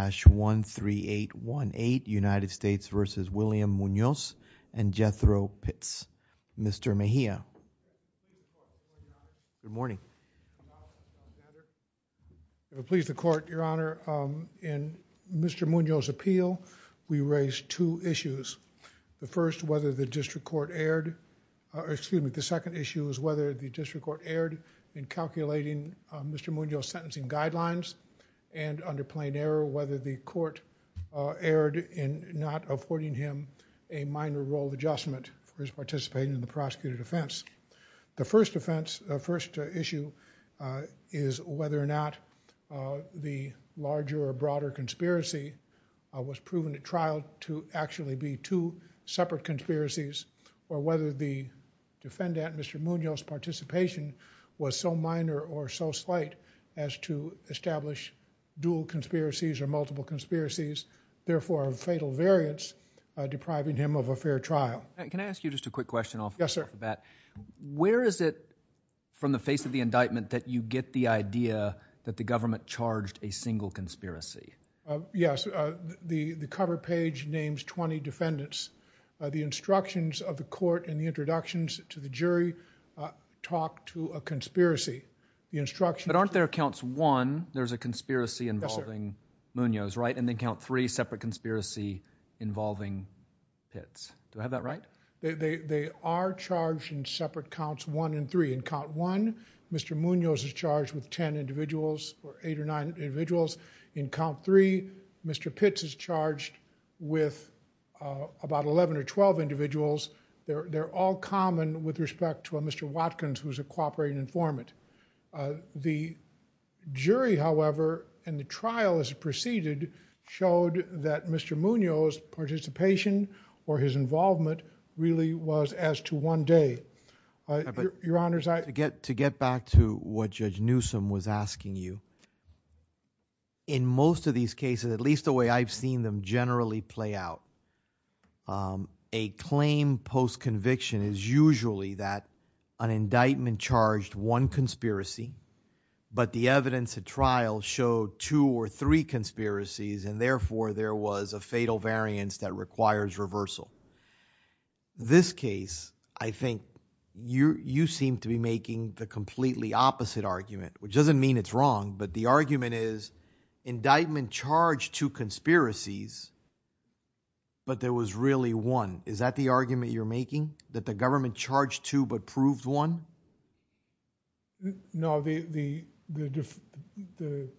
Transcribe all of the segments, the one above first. and Jethro Pitts. Mr. Mejia. Good morning. If it pleases the Court, Your Honor, in Mr. Munoz's appeal, we raised two issues. The first, whether the District Court erred, excuse me, the second issue is whether the District Court erred in calculating Mr. Munoz's sentencing guidelines and, under plain error, whether the Court erred in not affording him a minor role adjustment for his participating in the prosecuted offense. The first offense, the first issue is whether or not the larger or broader conspiracy was proven at trial to actually be two separate conspiracies or whether the defendant, Mr. Munoz's participation was so minor or so slight as to establish dual conspiracies or multiple conspiracies, therefore of fatal variance, depriving him of a fair trial. Can I ask you just a quick question off the bat? Yes, sir. Where is it from the face of the indictment that you get the idea that the government charged a single conspiracy? Yes, the cover page names 20 defendants. The But aren't there counts one, there's a conspiracy involving Munoz, right? And then count three, separate conspiracy involving Pitts. Do I have that right? They are charged in separate counts one and three. In count one, Mr. Munoz is charged with 10 individuals or 8 or 9 individuals. In count three, Mr. Pitts is charged with about 11 or 12 individuals. They're all common with respect to a Mr. Watkins, who's a cooperating informant. The jury, however, in the trial as it proceeded, showed that Mr. Munoz's participation or his involvement really was as to one day. Your honors, I get to get back to what Judge Newsome was asking you. In most of these cases, at least the way I've seen them generally play out, a claim post-conviction is usually that an indictment charged one conspiracy, but the evidence at trial showed two or three conspiracies and therefore there was a fatal variance that requires reversal. This case, I think you seem to be making the completely opposite argument, which doesn't mean it's wrong, but the argument is indictment charged two conspiracies, but there was really one. Is that the argument you're making? That the government charged two but proved one? No, the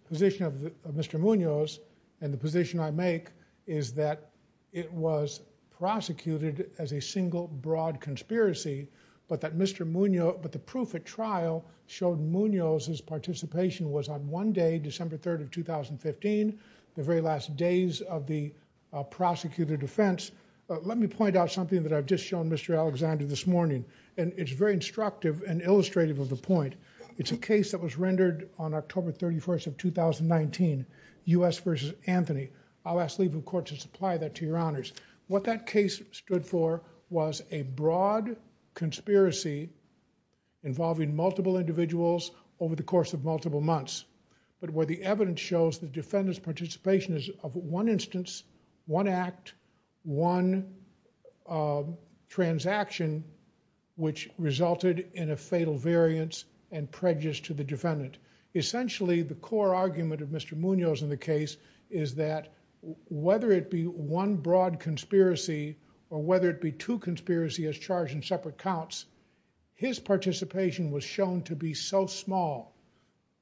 position of Mr. Munoz and the position I make is that it was prosecuted as a single broad conspiracy, but that Mr. Munoz, but the proof at trial showed Munoz's participation was on one day, December 3rd of 2015, the very last days of the prosecutor defense. Let me point out something that I've just shown Mr. Alexander this morning and it's very instructive and illustrative of the point. It's a case that was rendered on October 31st of 2019, U.S. v. Anthony. I'll ask leave of court to supply that to your honors. What that case stood for was a broad conspiracy involving multiple individuals over the course of multiple months, but where the evidence shows the defendant's participation is of one instance, one act, one transaction, which resulted in a fatal variance and prejudice to the defendant. Essentially, the core argument of Mr. Munoz in the case is that whether it be one broad conspiracy or whether it be two conspiracy as charged in separate counts, his participation was shown to be so small,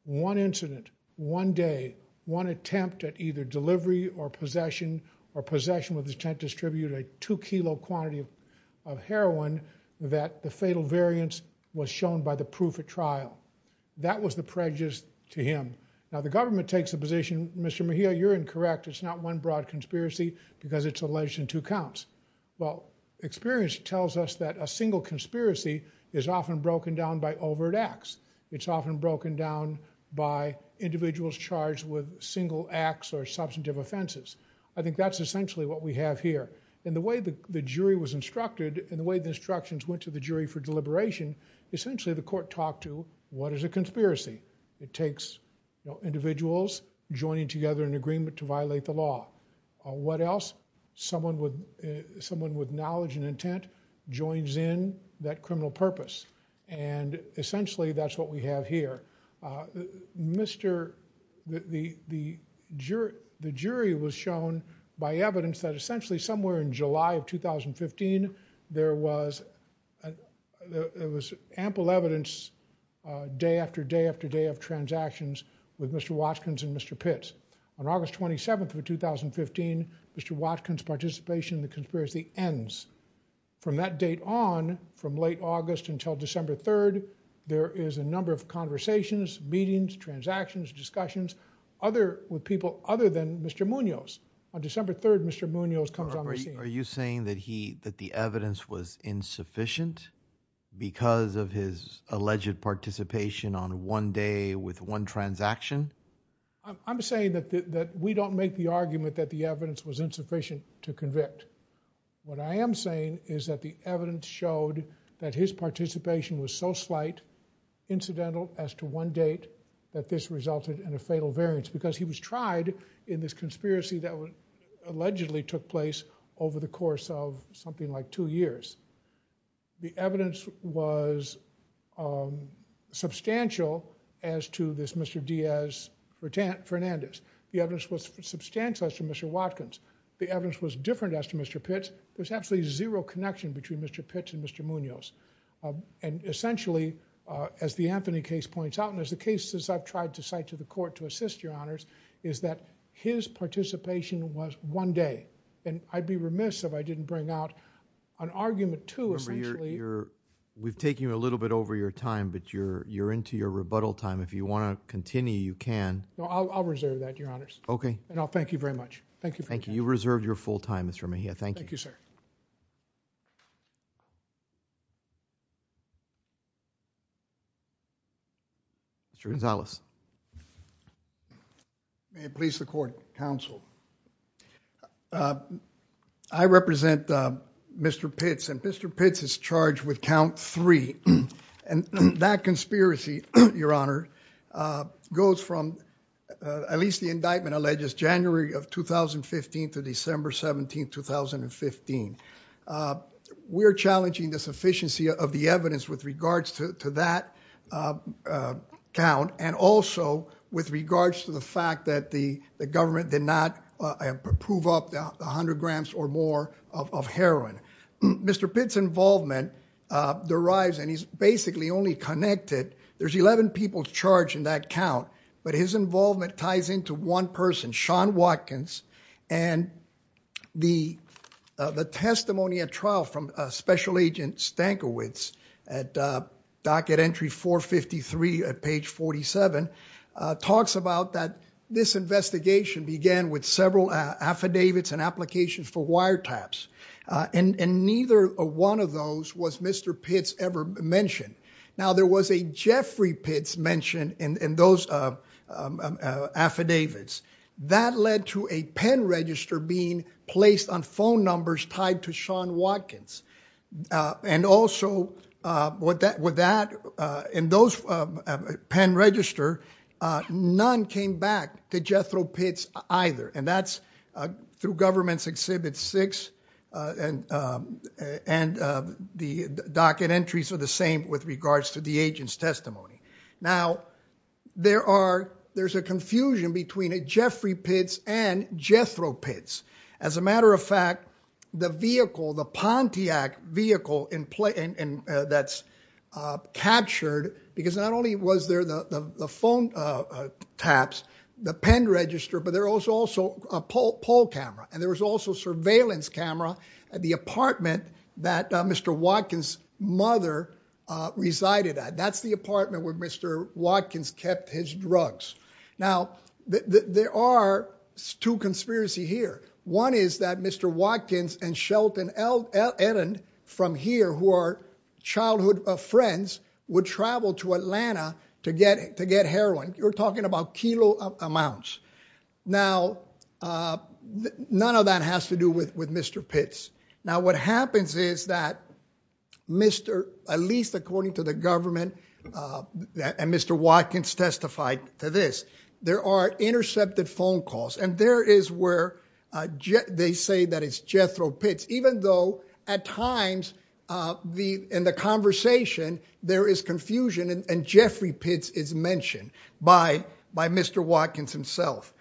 one incident, one day, one attempt at either delivery or possession or possession with intent to distribute a two kilo quantity of heroin that the fatal variance was shown by the proof at trial. That was the prejudice to him. Now the government takes the position, Mr. Mejia, you're incorrect. It's not one broad conspiracy because it's alleged in two counts. Well, experience tells us that a single conspiracy is often broken down by overt acts. It's often broken down by individuals charged with single acts or substantive offenses. I think that's essentially what we have here. In the way the jury was instructed, in the way the instructions went to the jury for deliberation, essentially the court talked to, what is a conspiracy? It takes individuals joining together in agreement to violate the law. What else? Someone with knowledge and that criminal purpose. And essentially that's what we have here. The jury was shown by evidence that essentially somewhere in July of 2015, there was ample evidence day after day after day of transactions with Mr. Watkins and Mr. Pitts. On August 27th of 2015, Mr. Watkins' participation in the conspiracy ends. From that date on, from late August until December 3rd, there is a number of conversations, meetings, transactions, discussions with people other than Mr. Munoz. On December 3rd, Mr. Munoz comes on the scene. Are you saying that the evidence was insufficient because of his alleged participation on one day with one transaction? I'm saying that we don't make the argument that the evidence was insufficient to convict. What I am saying is that the evidence showed that his participation was so slight, incidental as to one date, that this resulted in a fatal variance because he was tried in this conspiracy that allegedly took place over the course of something like two years. The evidence was substantial as to this Mr. Diaz Fernandez. The evidence was substantial as to Mr. Watkins. The evidence was different as to Mr. Pitts. There's absolutely zero connection between Mr. Pitts and Mr. Munoz. Essentially, as the Anthony case points out, and as the cases I've tried to cite to the court to assist your honors, is that his participation was one day. I'd be We've taken you a little bit over your time, but you're into your rebuttal time. If you want to continue, you can. No, I'll reserve that, your honors. Okay. And I'll thank you very much. Thank you. Thank you. You reserved your full time, Mr. Mejia. Thank you. Thank you, sir. Mr. Gonzales. May it please the court, counsel. I represent Mr. Pitts, and Mr. Pitts is charged with count three. And that conspiracy, your honor, goes from at least the indictment alleges January of 2015 to December 17, 2015. We're challenging the sufficiency of the evidence with regards to that count and also with regards to the fact that the government did not prove up a hundred grams or more of heroin. Mr. Pitts' involvement derives, and he's basically only connected, there's 11 people charged in that count, but his involvement ties into one person, Sean Watkins, and the testimony at trial from Special Agent Stankiewicz at for wiretaps. And neither one of those was Mr. Pitts ever mentioned. Now, there was a Jeffrey Pitts mention in those affidavits. That led to a pen register being placed on phone numbers tied to Sean Watkins. And also, with that, in those pen register, none came back to Jethro Pitts either. And that's through Government's Exhibit 6, and the docket entries are the same with regards to the agent's testimony. Now, there's a confusion between a Jeffrey Pitts and Jethro Pitts. As a matter of fact, the vehicle, the Pontiac vehicle that's captured, because not only was there the phone taps, the pen register, but there was also a pole camera, and there was also surveillance camera at the apartment that Mr. Watkins' mother resided at. That's the apartment where Mr. Watkins kept his drugs. Now, there are two conspiracies here. One is that Mr. Watkins and Shelton Ehren from here, who are childhood friends, would travel to Atlanta to get heroin. You're talking about kilo amounts. Now, none of that has to do with Mr. Pitts. Now, what happens is that Mr., at least according to the government, and Mr. Watkins testified to this, there are intercepted phone calls. And there is where they say that it's Jethro Pitts, even though at times in the conversation, there is confusion, and Jeffrey Pitts is mentioned by Mr. Watkins himself.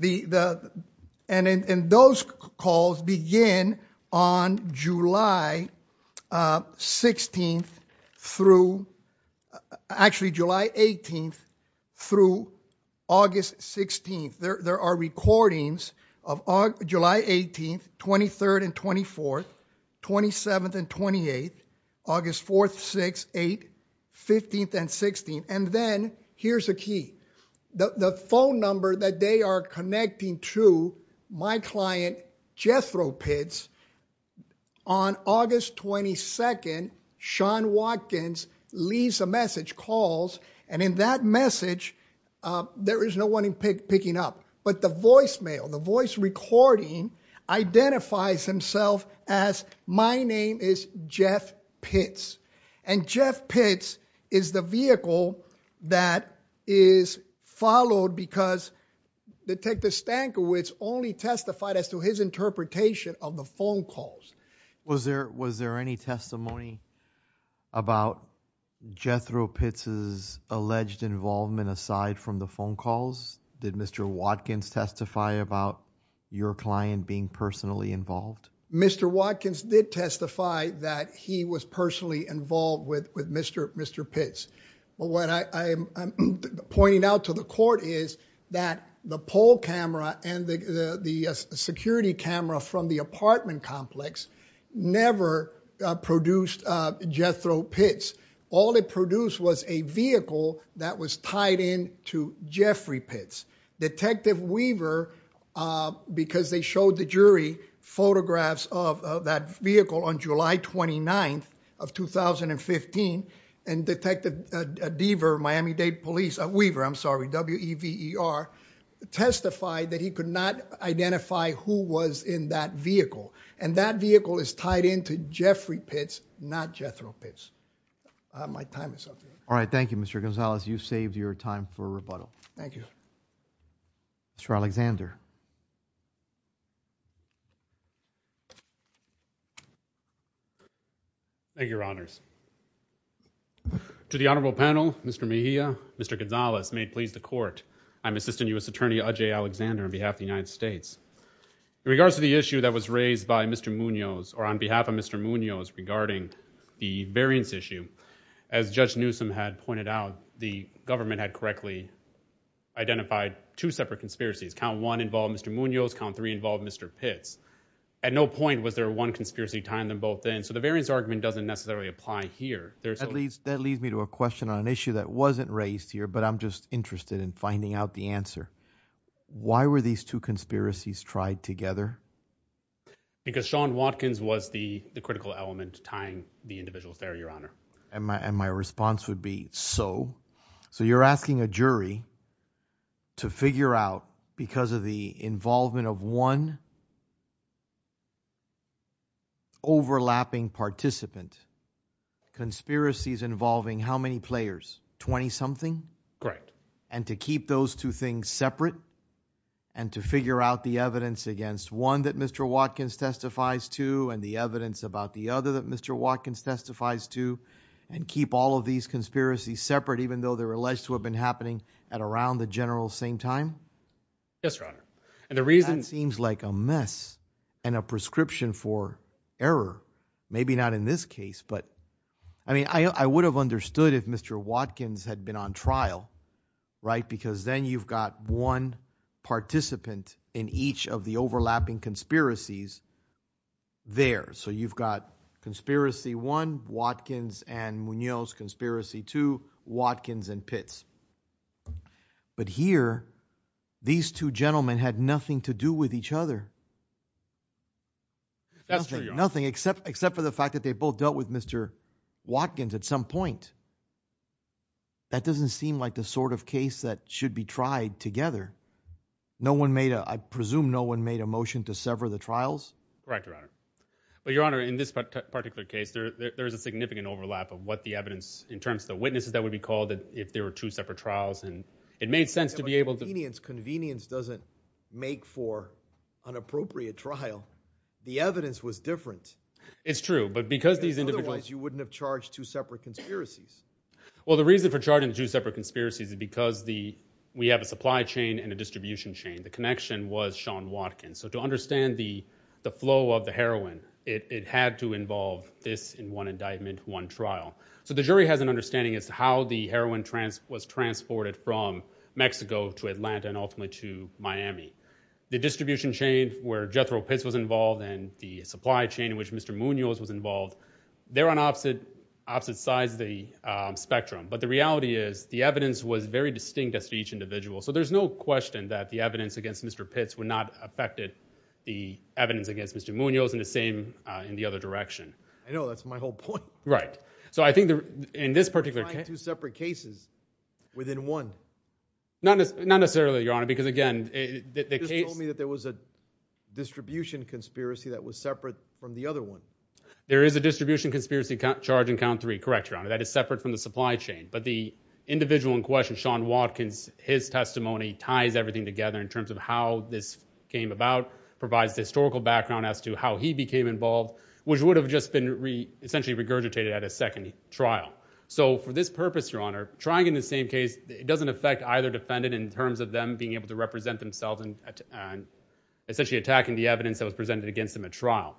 And those calls begin on July 18th through August 16th. There are recordings of July 18th, 23rd and 24th, 27th and 28th, August 4th, 6th, 8th, 15th and 16th. And then, here's the key. The phone number that they are connecting to my client, Jethro Pitts, on August 22nd, Sean Watkins leaves a message, calls, and in that message, there is no one picking up. But the voicemail, the voice recording, identifies himself as, my name is Jeff Pitts. And Jeff Pitts is the detective Stankiewicz only testified as to his interpretation of the phone calls. Was there any testimony about Jethro Pitts' alleged involvement aside from the phone calls? Did Mr. Watkins testify about your client being personally involved? Mr. Watkins did testify that he was personally involved with Mr. Pitts. But what I'm pointing out to the court is that the poll camera and the security camera from the apartment complex never produced Jethro Pitts. All it produced was a vehicle that was tied in to Jeffrey Pitts. Detective Weaver, because they showed the jury photographs of that vehicle on July 29th of 2015, and Detective Weaver testified that he could not identify who was in that vehicle. And that vehicle is tied in to Jeffrey Pitts, not Jethro Pitts. All right. Thank you, Mr. Gonzalez. You saved your time for rebuttal. Thank you. Mr. Alexander. Thank you, Your Honors. To the honorable panel, Mr. Mejia, Mr. Gonzalez, may it please the court, I'm Assistant U.S. Attorney Ajay Alexander on behalf of the United States. In regards to the issue that was raised by Mr. Munoz, or on behalf of Mr. Munoz regarding the variance issue, as Judge Newsom had pointed out, the government had correctly identified two separate conspiracies. Count one involved Mr. Munoz. Count three involved Mr. Pitts. At no point was there one conspiracy tying them both in. So the variance argument doesn't necessarily apply here. That leads me to a question on an issue that wasn't raised here, but I'm just interested in finding out the answer. Why were these two conspiracies tried together? Because Sean Watkins was the critical element tying the individual there, Your Honor. And my response would be so. So you're asking a jury to figure out, because of the involvement of one overlapping participant, conspiracies involving how many players? Twenty-something? Correct. And to keep those two things separate and to figure out the evidence against one that Mr. Watkins testifies to and the evidence about the other that Mr. Watkins testifies to, and keep all of these conspiracies separate, even though they're alleged to have been happening at around the general same time? Yes, Your Honor. And the reason... That seems like a mess and a prescription for error. Maybe not in this case, but I mean, I would have understood if Mr. Watkins had been on trial, right? Because then you've got one participant in each of the overlapping conspiracies there. So you've got conspiracy one, Watkins and Munoz, conspiracy two, Watkins and Pitts. But here, these two gentlemen had nothing to do with each other. That's true, Your Honor. Nothing, except for the fact that they both dealt with Mr. Watkins at some point. That doesn't seem like the sort of case that should be tried together. I presume no one made a motion to sever the trials? Correct, Your Honor. Well, Your Honor, in this particular case, there's a significant overlap of what the evidence, in terms of the witnesses that would be called if there were two separate trials. And it made sense to be able to... But convenience doesn't make for an appropriate trial. The evidence was different. It's true, but because these individuals... Because otherwise, you wouldn't have charged two separate conspiracies. Well, the reason for charging two separate conspiracies is because we have a supply chain and a distribution chain. The connection was Sean Watkins. So to understand the flow of heroin, it had to involve this in one indictment, one trial. So the jury has an understanding as to how the heroin was transported from Mexico to Atlanta and ultimately to Miami. The distribution chain where Jethro Pitts was involved and the supply chain in which Mr. Munoz was involved, they're on opposite sides of the spectrum. But the reality is the evidence was very distinct as to each individual. So there's no question that the evidence against Mr. Pitts would not be the same in the other direction. I know. That's my whole point. Right. So I think in this particular... Why two separate cases within one? Not necessarily, Your Honor, because again... You just told me that there was a distribution conspiracy that was separate from the other one. There is a distribution conspiracy charge in count three. Correct, Your Honor. That is separate from the supply chain. But the individual in question, Sean Watkins, his testimony ties everything together in terms of how this came about, provides historical background as to how he became involved, which would have just been essentially regurgitated at a second trial. So for this purpose, Your Honor, trying in the same case, it doesn't affect either defendant in terms of them being able to represent themselves and essentially attacking the evidence that was presented against them at trial.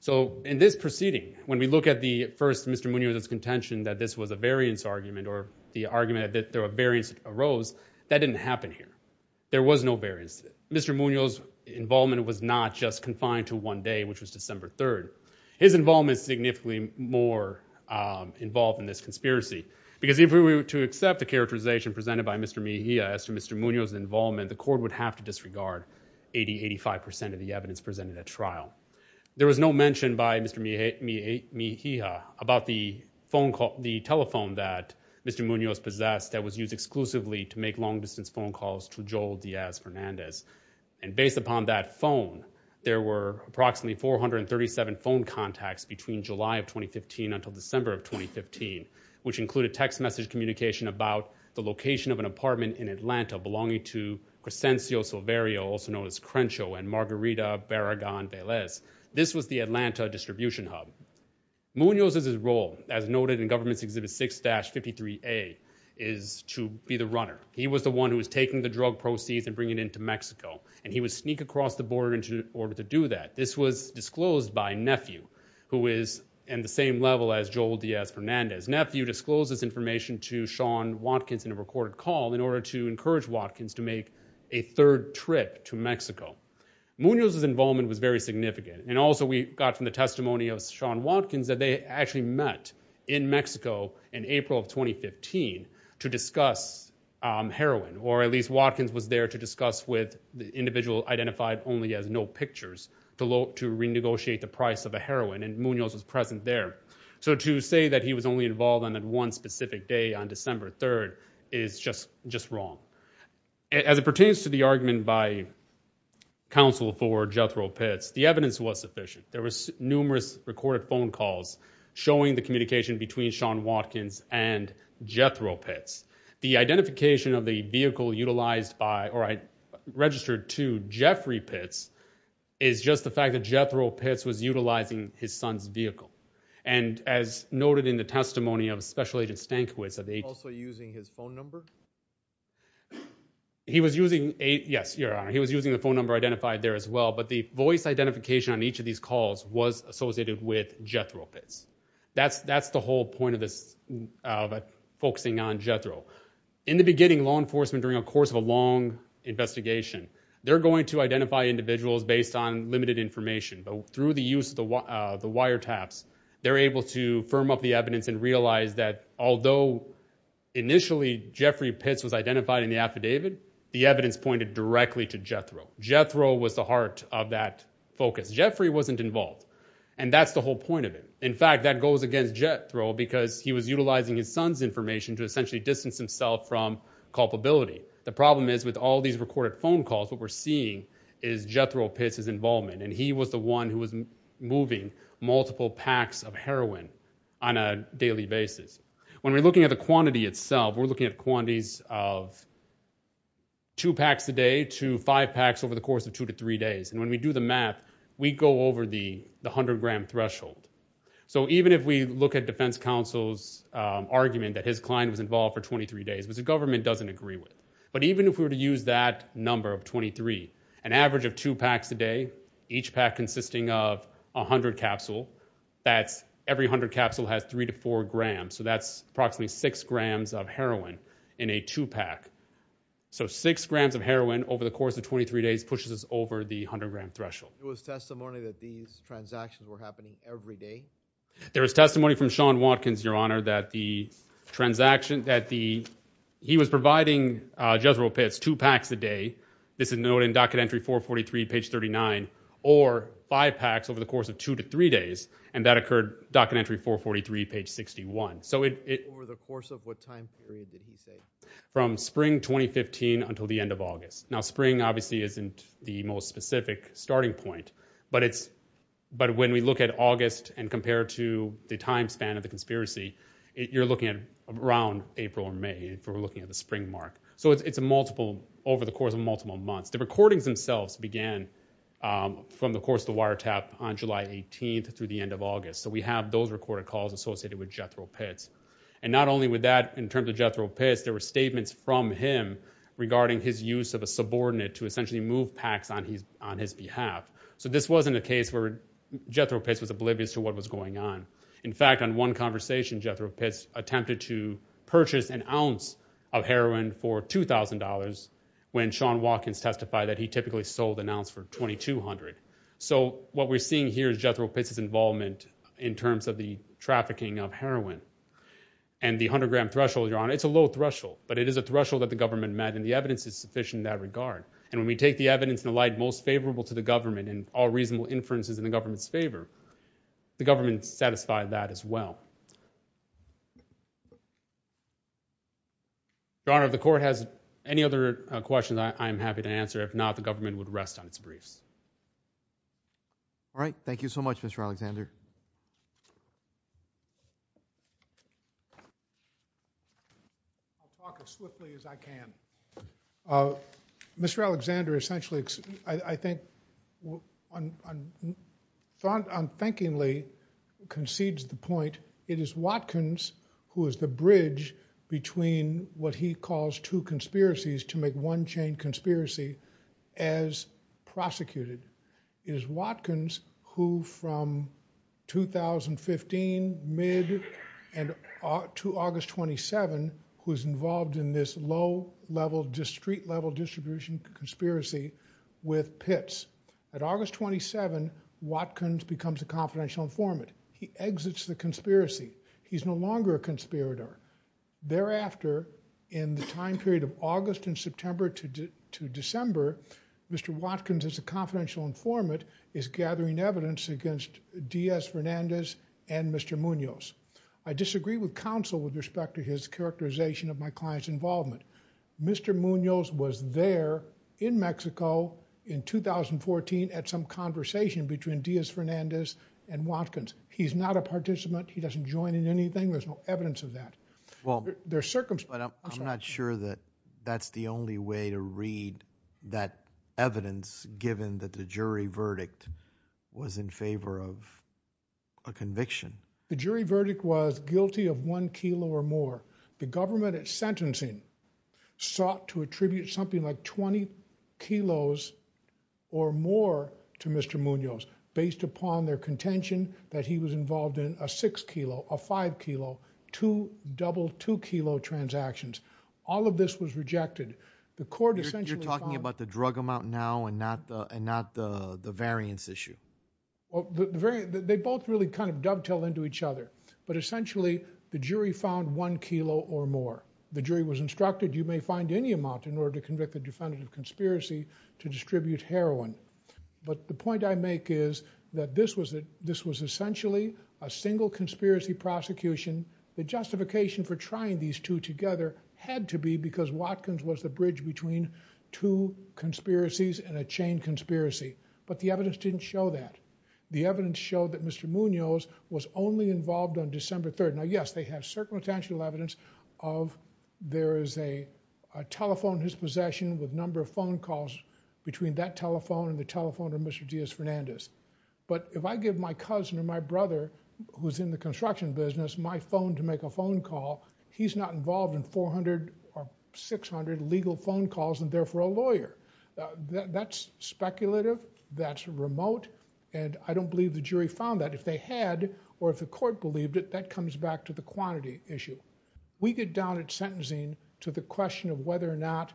So in this proceeding, when we look at the first Mr. Munoz's contention that this was a variance argument or the argument that there were no variances, Mr. Munoz's involvement was not just confined to one day, which was December 3rd. His involvement is significantly more involved in this conspiracy because if we were to accept the characterization presented by Mr. Mejia as to Mr. Munoz's involvement, the court would have to disregard 80-85% of the evidence presented at trial. There was no mention by Mr. Mejia about the telephone that Mr. Munoz possessed that was used exclusively to make long-distance phone calls to Joel Diaz Fernandez. And based upon that phone, there were approximately 437 phone contacts between July of 2015 until December of 2015, which included text message communication about the location of an apartment in Atlanta belonging to Cresencio Silverio, also known as Crencho, and Margarita Barragan Velez. This was the Atlanta distribution hub. Munoz's role, as noted in Government's Exhibit 6-53A, is to be the runner. He was the one who was taking the drug proceeds and bringing it into Mexico, and he would sneak across the border in order to do that. This was disclosed by Nephew, who is in the same level as Joel Diaz Fernandez. Nephew disclosed this information to Sean Watkins in a recorded call in order to encourage Watkins to make a third trip to Mexico. Munoz's involvement was very significant, and also we got from the testimony of Sean Watkins that they actually met in Mexico in April of 2015 to discuss heroin, or at least Watkins was there to discuss with the individual identified only as No Pictures to renegotiate the price of a heroin, and Munoz was present there. So to say that he was only involved on that one specific day on December 3rd is just wrong. As it pertains to the argument by counsel for Jethro Pitts, the evidence was sufficient. There were numerous recorded phone calls showing the communication between Sean Watkins and Jethro Pitts. The identification of the vehicle utilized by, or registered to, Jeffrey Pitts is just the fact that Jethro Pitts was utilizing his son's vehicle, and as noted in the testimony of Special Agent Stankiewicz, that they also using his phone number. He was using a, yes, your honor, he was using the phone number identified there as well, but the voice identification on each of these calls was associated with Jethro Pitts. That's the whole point of this, of focusing on Jethro. In the beginning, law enforcement, during a course of a long investigation, they're going to identify individuals based on limited information, but through the use of the wiretaps, they're able to firm up the evidence and realize that although initially Jeffrey Pitts was identified in the affidavit, the evidence pointed directly to that focus. Jeffrey wasn't involved, and that's the whole point of it. In fact, that goes against Jethro because he was utilizing his son's information to essentially distance himself from culpability. The problem is with all these recorded phone calls, what we're seeing is Jethro Pitts' involvement, and he was the one who was moving multiple packs of heroin on a daily basis. When we're looking at the quantity itself, we're looking at quantities of two packs a day to five packs over the course of two to three days, and when we do the math, we go over the 100-gram threshold. So even if we look at defense counsel's argument that his client was involved for 23 days, which the government doesn't agree with, but even if we were to use that number of 23, an average of two packs a day, each pack consisting of 100 capsule, that's every 100 capsule has three to four grams, so that's approximately six grams of heroin in a two-pack. So six grams of heroin over the course of 23 days pushes us over the 100-gram threshold. There was testimony that these transactions were happening every day? There was testimony from Sean Watkins, your honor, that the transaction that the he was providing Jethro Pitts two packs a day, this is noted in docket entry 443 page 39, or five packs over the course of two to three days, and that occurred docket entry 443 page 61. So it over the course of what time period did he say? From spring 2015 until the end of August. Now spring obviously isn't the most specific starting point, but when we look at August and compare to the time span of the conspiracy, you're looking at around April or May if we're looking at the spring mark. So it's a multiple over the course of multiple months. The recordings themselves began from the course of the wiretap on July 18th through the end of August. So we have those recorded calls associated with Jethro Pitts. And not only with that, in terms of Jethro Pitts, there were statements from him regarding his use of a subordinate to essentially move packs on his behalf. So this wasn't a case where Jethro Pitts was oblivious to what was going on. In fact, on one conversation Jethro Pitts attempted to purchase an ounce of heroin for $2,000 when Sean Watkins testified that he typically sold an ounce for $2,200. So what we're seeing here is Jethro Pitts' involvement in terms of the trafficking of heroin and the 100-gram threshold, Your Honor. It's a low threshold, but it is a threshold that the government met and the evidence is sufficient in that regard. And when we take the evidence in the light most favorable to the government and all reasonable inferences in the government's favor, the government satisfied that as well. Your Honor, if the court has any other questions, I am happy to answer. If not, the government would rest on its briefs. All right. Thank you so much, Mr. Alexander. I'll talk as swiftly as I can. Mr. Alexander essentially, I think, unthinkingly concedes the point. It is Watkins who is the bridge between what he calls two It is Watkins who, from 2015 mid to August 27, who is involved in this low-level, street-level distribution conspiracy with Pitts. At August 27, Watkins becomes a confidential informant. He exits the conspiracy. He's no longer a conspirator. Thereafter, in the time period of gathering evidence against Diaz-Fernandez and Mr. Munoz. I disagree with counsel with respect to his characterization of my client's involvement. Mr. Munoz was there in Mexico in 2014 at some conversation between Diaz-Fernandez and Watkins. He's not a participant. He doesn't join in anything. There's no evidence of that. I'm not sure that that's the only way to read that evidence, given that the jury verdict was in favor of a conviction. The jury verdict was guilty of one kilo or more. The government at sentencing sought to attribute something like 20 kilos or more to Mr. Munoz based upon their contention that he was involved in a six kilo, a five kilo, two double two kilo transactions. All of this was rejected. You're talking about the drug amount now and not the variance issue? Well, they both really kind of dovetail into each other. But essentially, the jury found one kilo or more. The jury was instructed, you may find any amount in order to convict the defendant of conspiracy to distribute heroin. But the point I make is that this was essentially a single conspiracy prosecution. The justification for trying these two together had to be because Watkins was the bridge between two conspiracies and a chain conspiracy. But the evidence didn't show that. The evidence showed that Mr. Munoz was only involved on December 3rd. Now, yes, they have certain potential evidence of there is a telephone in his possession with a number of phone calls between that telephone and the telephone of Mr. Diaz-Fernandez. But if I give my cousin or my brother who's in the construction business my phone to make a phone call, he's not involved in 400 or 600 legal phone calls and therefore a lawyer. That's speculative. That's remote. And I don't believe the jury found that. If they had or if the court believed it, that comes back to the quantity issue. We get down at sentencing to the question of whether or not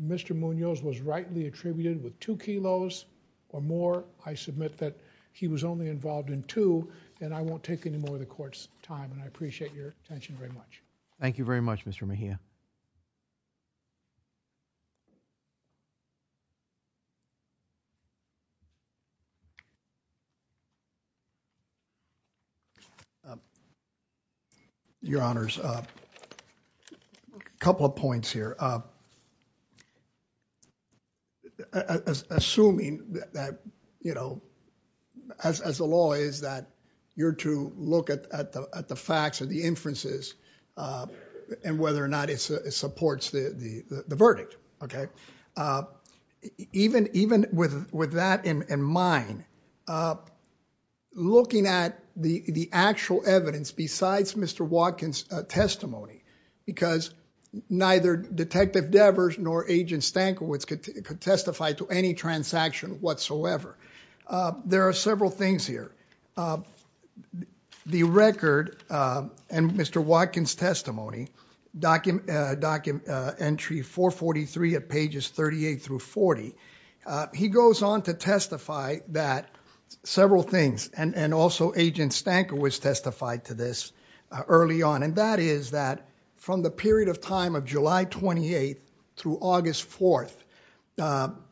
Mr. Munoz was rightly attributed with two kilos or more. I submit that he was only involved in two and I won't take any more of the court's time and I appreciate your attention very much. Thank you very much, Mr. Mejia. Your Honors, a couple of points here. Assuming that, you know, as the law is that you're to look at the facts or the inferences and whether or not it's true that Mr. Munoz was not involved in the phone call, supports the verdict, okay? Even with that in mind, looking at the actual evidence besides Mr. Watkins' testimony, because neither Detective Devers nor Agent Stankiewicz could testify to any transaction whatsoever. There are several things here. The record and Mr. Watkins' testimony, document entry 443 at pages 38 through 40, he goes on to testify that several things, and also Agent Stankiewicz testified to this early on, and that is that from the period of time of July 28th through August 4th,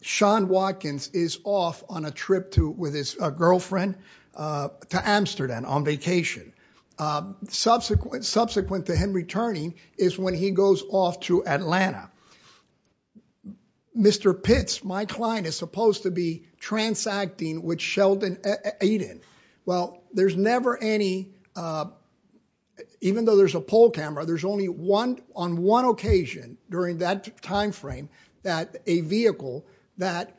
Sean Watkins is off on a trip with his girlfriend to Amsterdam on vacation. Subsequent to him returning is when he goes off to Atlanta. Mr. Pitts, my client, is supposed to be transacting with Sheldon Aiden. Well, there's never any, even though there's a poll camera, there's only one on one occasion during that that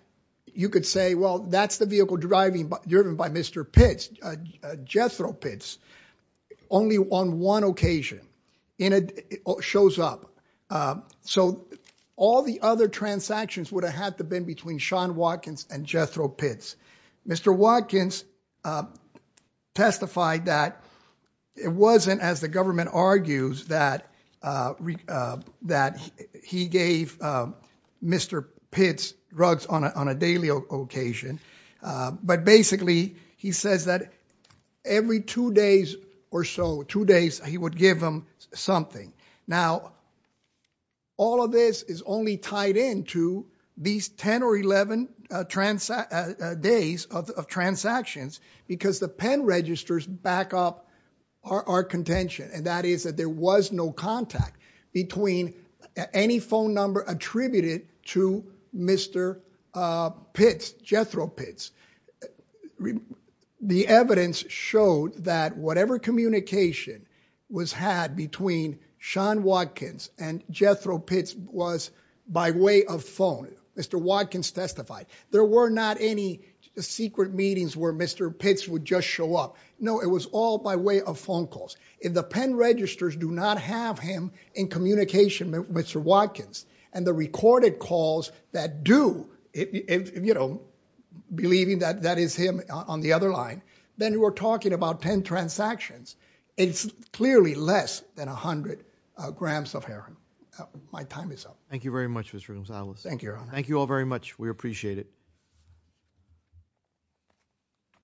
you could say, well, that's the vehicle driven by Mr. Pitts, Jethro Pitts, only on one occasion. It shows up. So all the other transactions would have had to have been between Sean Watkins and Jethro Pitts. Mr. Watkins testified that it wasn't, as the government argues, that he gave Mr. Pitts drugs on a daily occasion, but basically he says that every two days or so, two days, he would give them something. Now, all of this is only tied into these 10 or 11 days of transactions because the pen registers back up our contention, and that is that there was no contact between any phone number attributed to Mr. Pitts, Jethro Pitts. The evidence showed that whatever communication was had between Sean Watkins and Jethro Pitts was by way of phone. Mr. Watkins testified. There were not any secret meetings where Mr. Pitts would just show up. No, it was all by way of phone calls. If the pen registers do not have him in communication with Mr. Watkins and the recorded calls that do, you know, believing that that is him on the other line, then we're talking about 10 transactions. It's clearly less than 100 grams of heroin. My time is up. Thank you very much, Mr. Gonzalez. Thank you, Your Honor. Thank you all very much. We appreciate it. Thank you.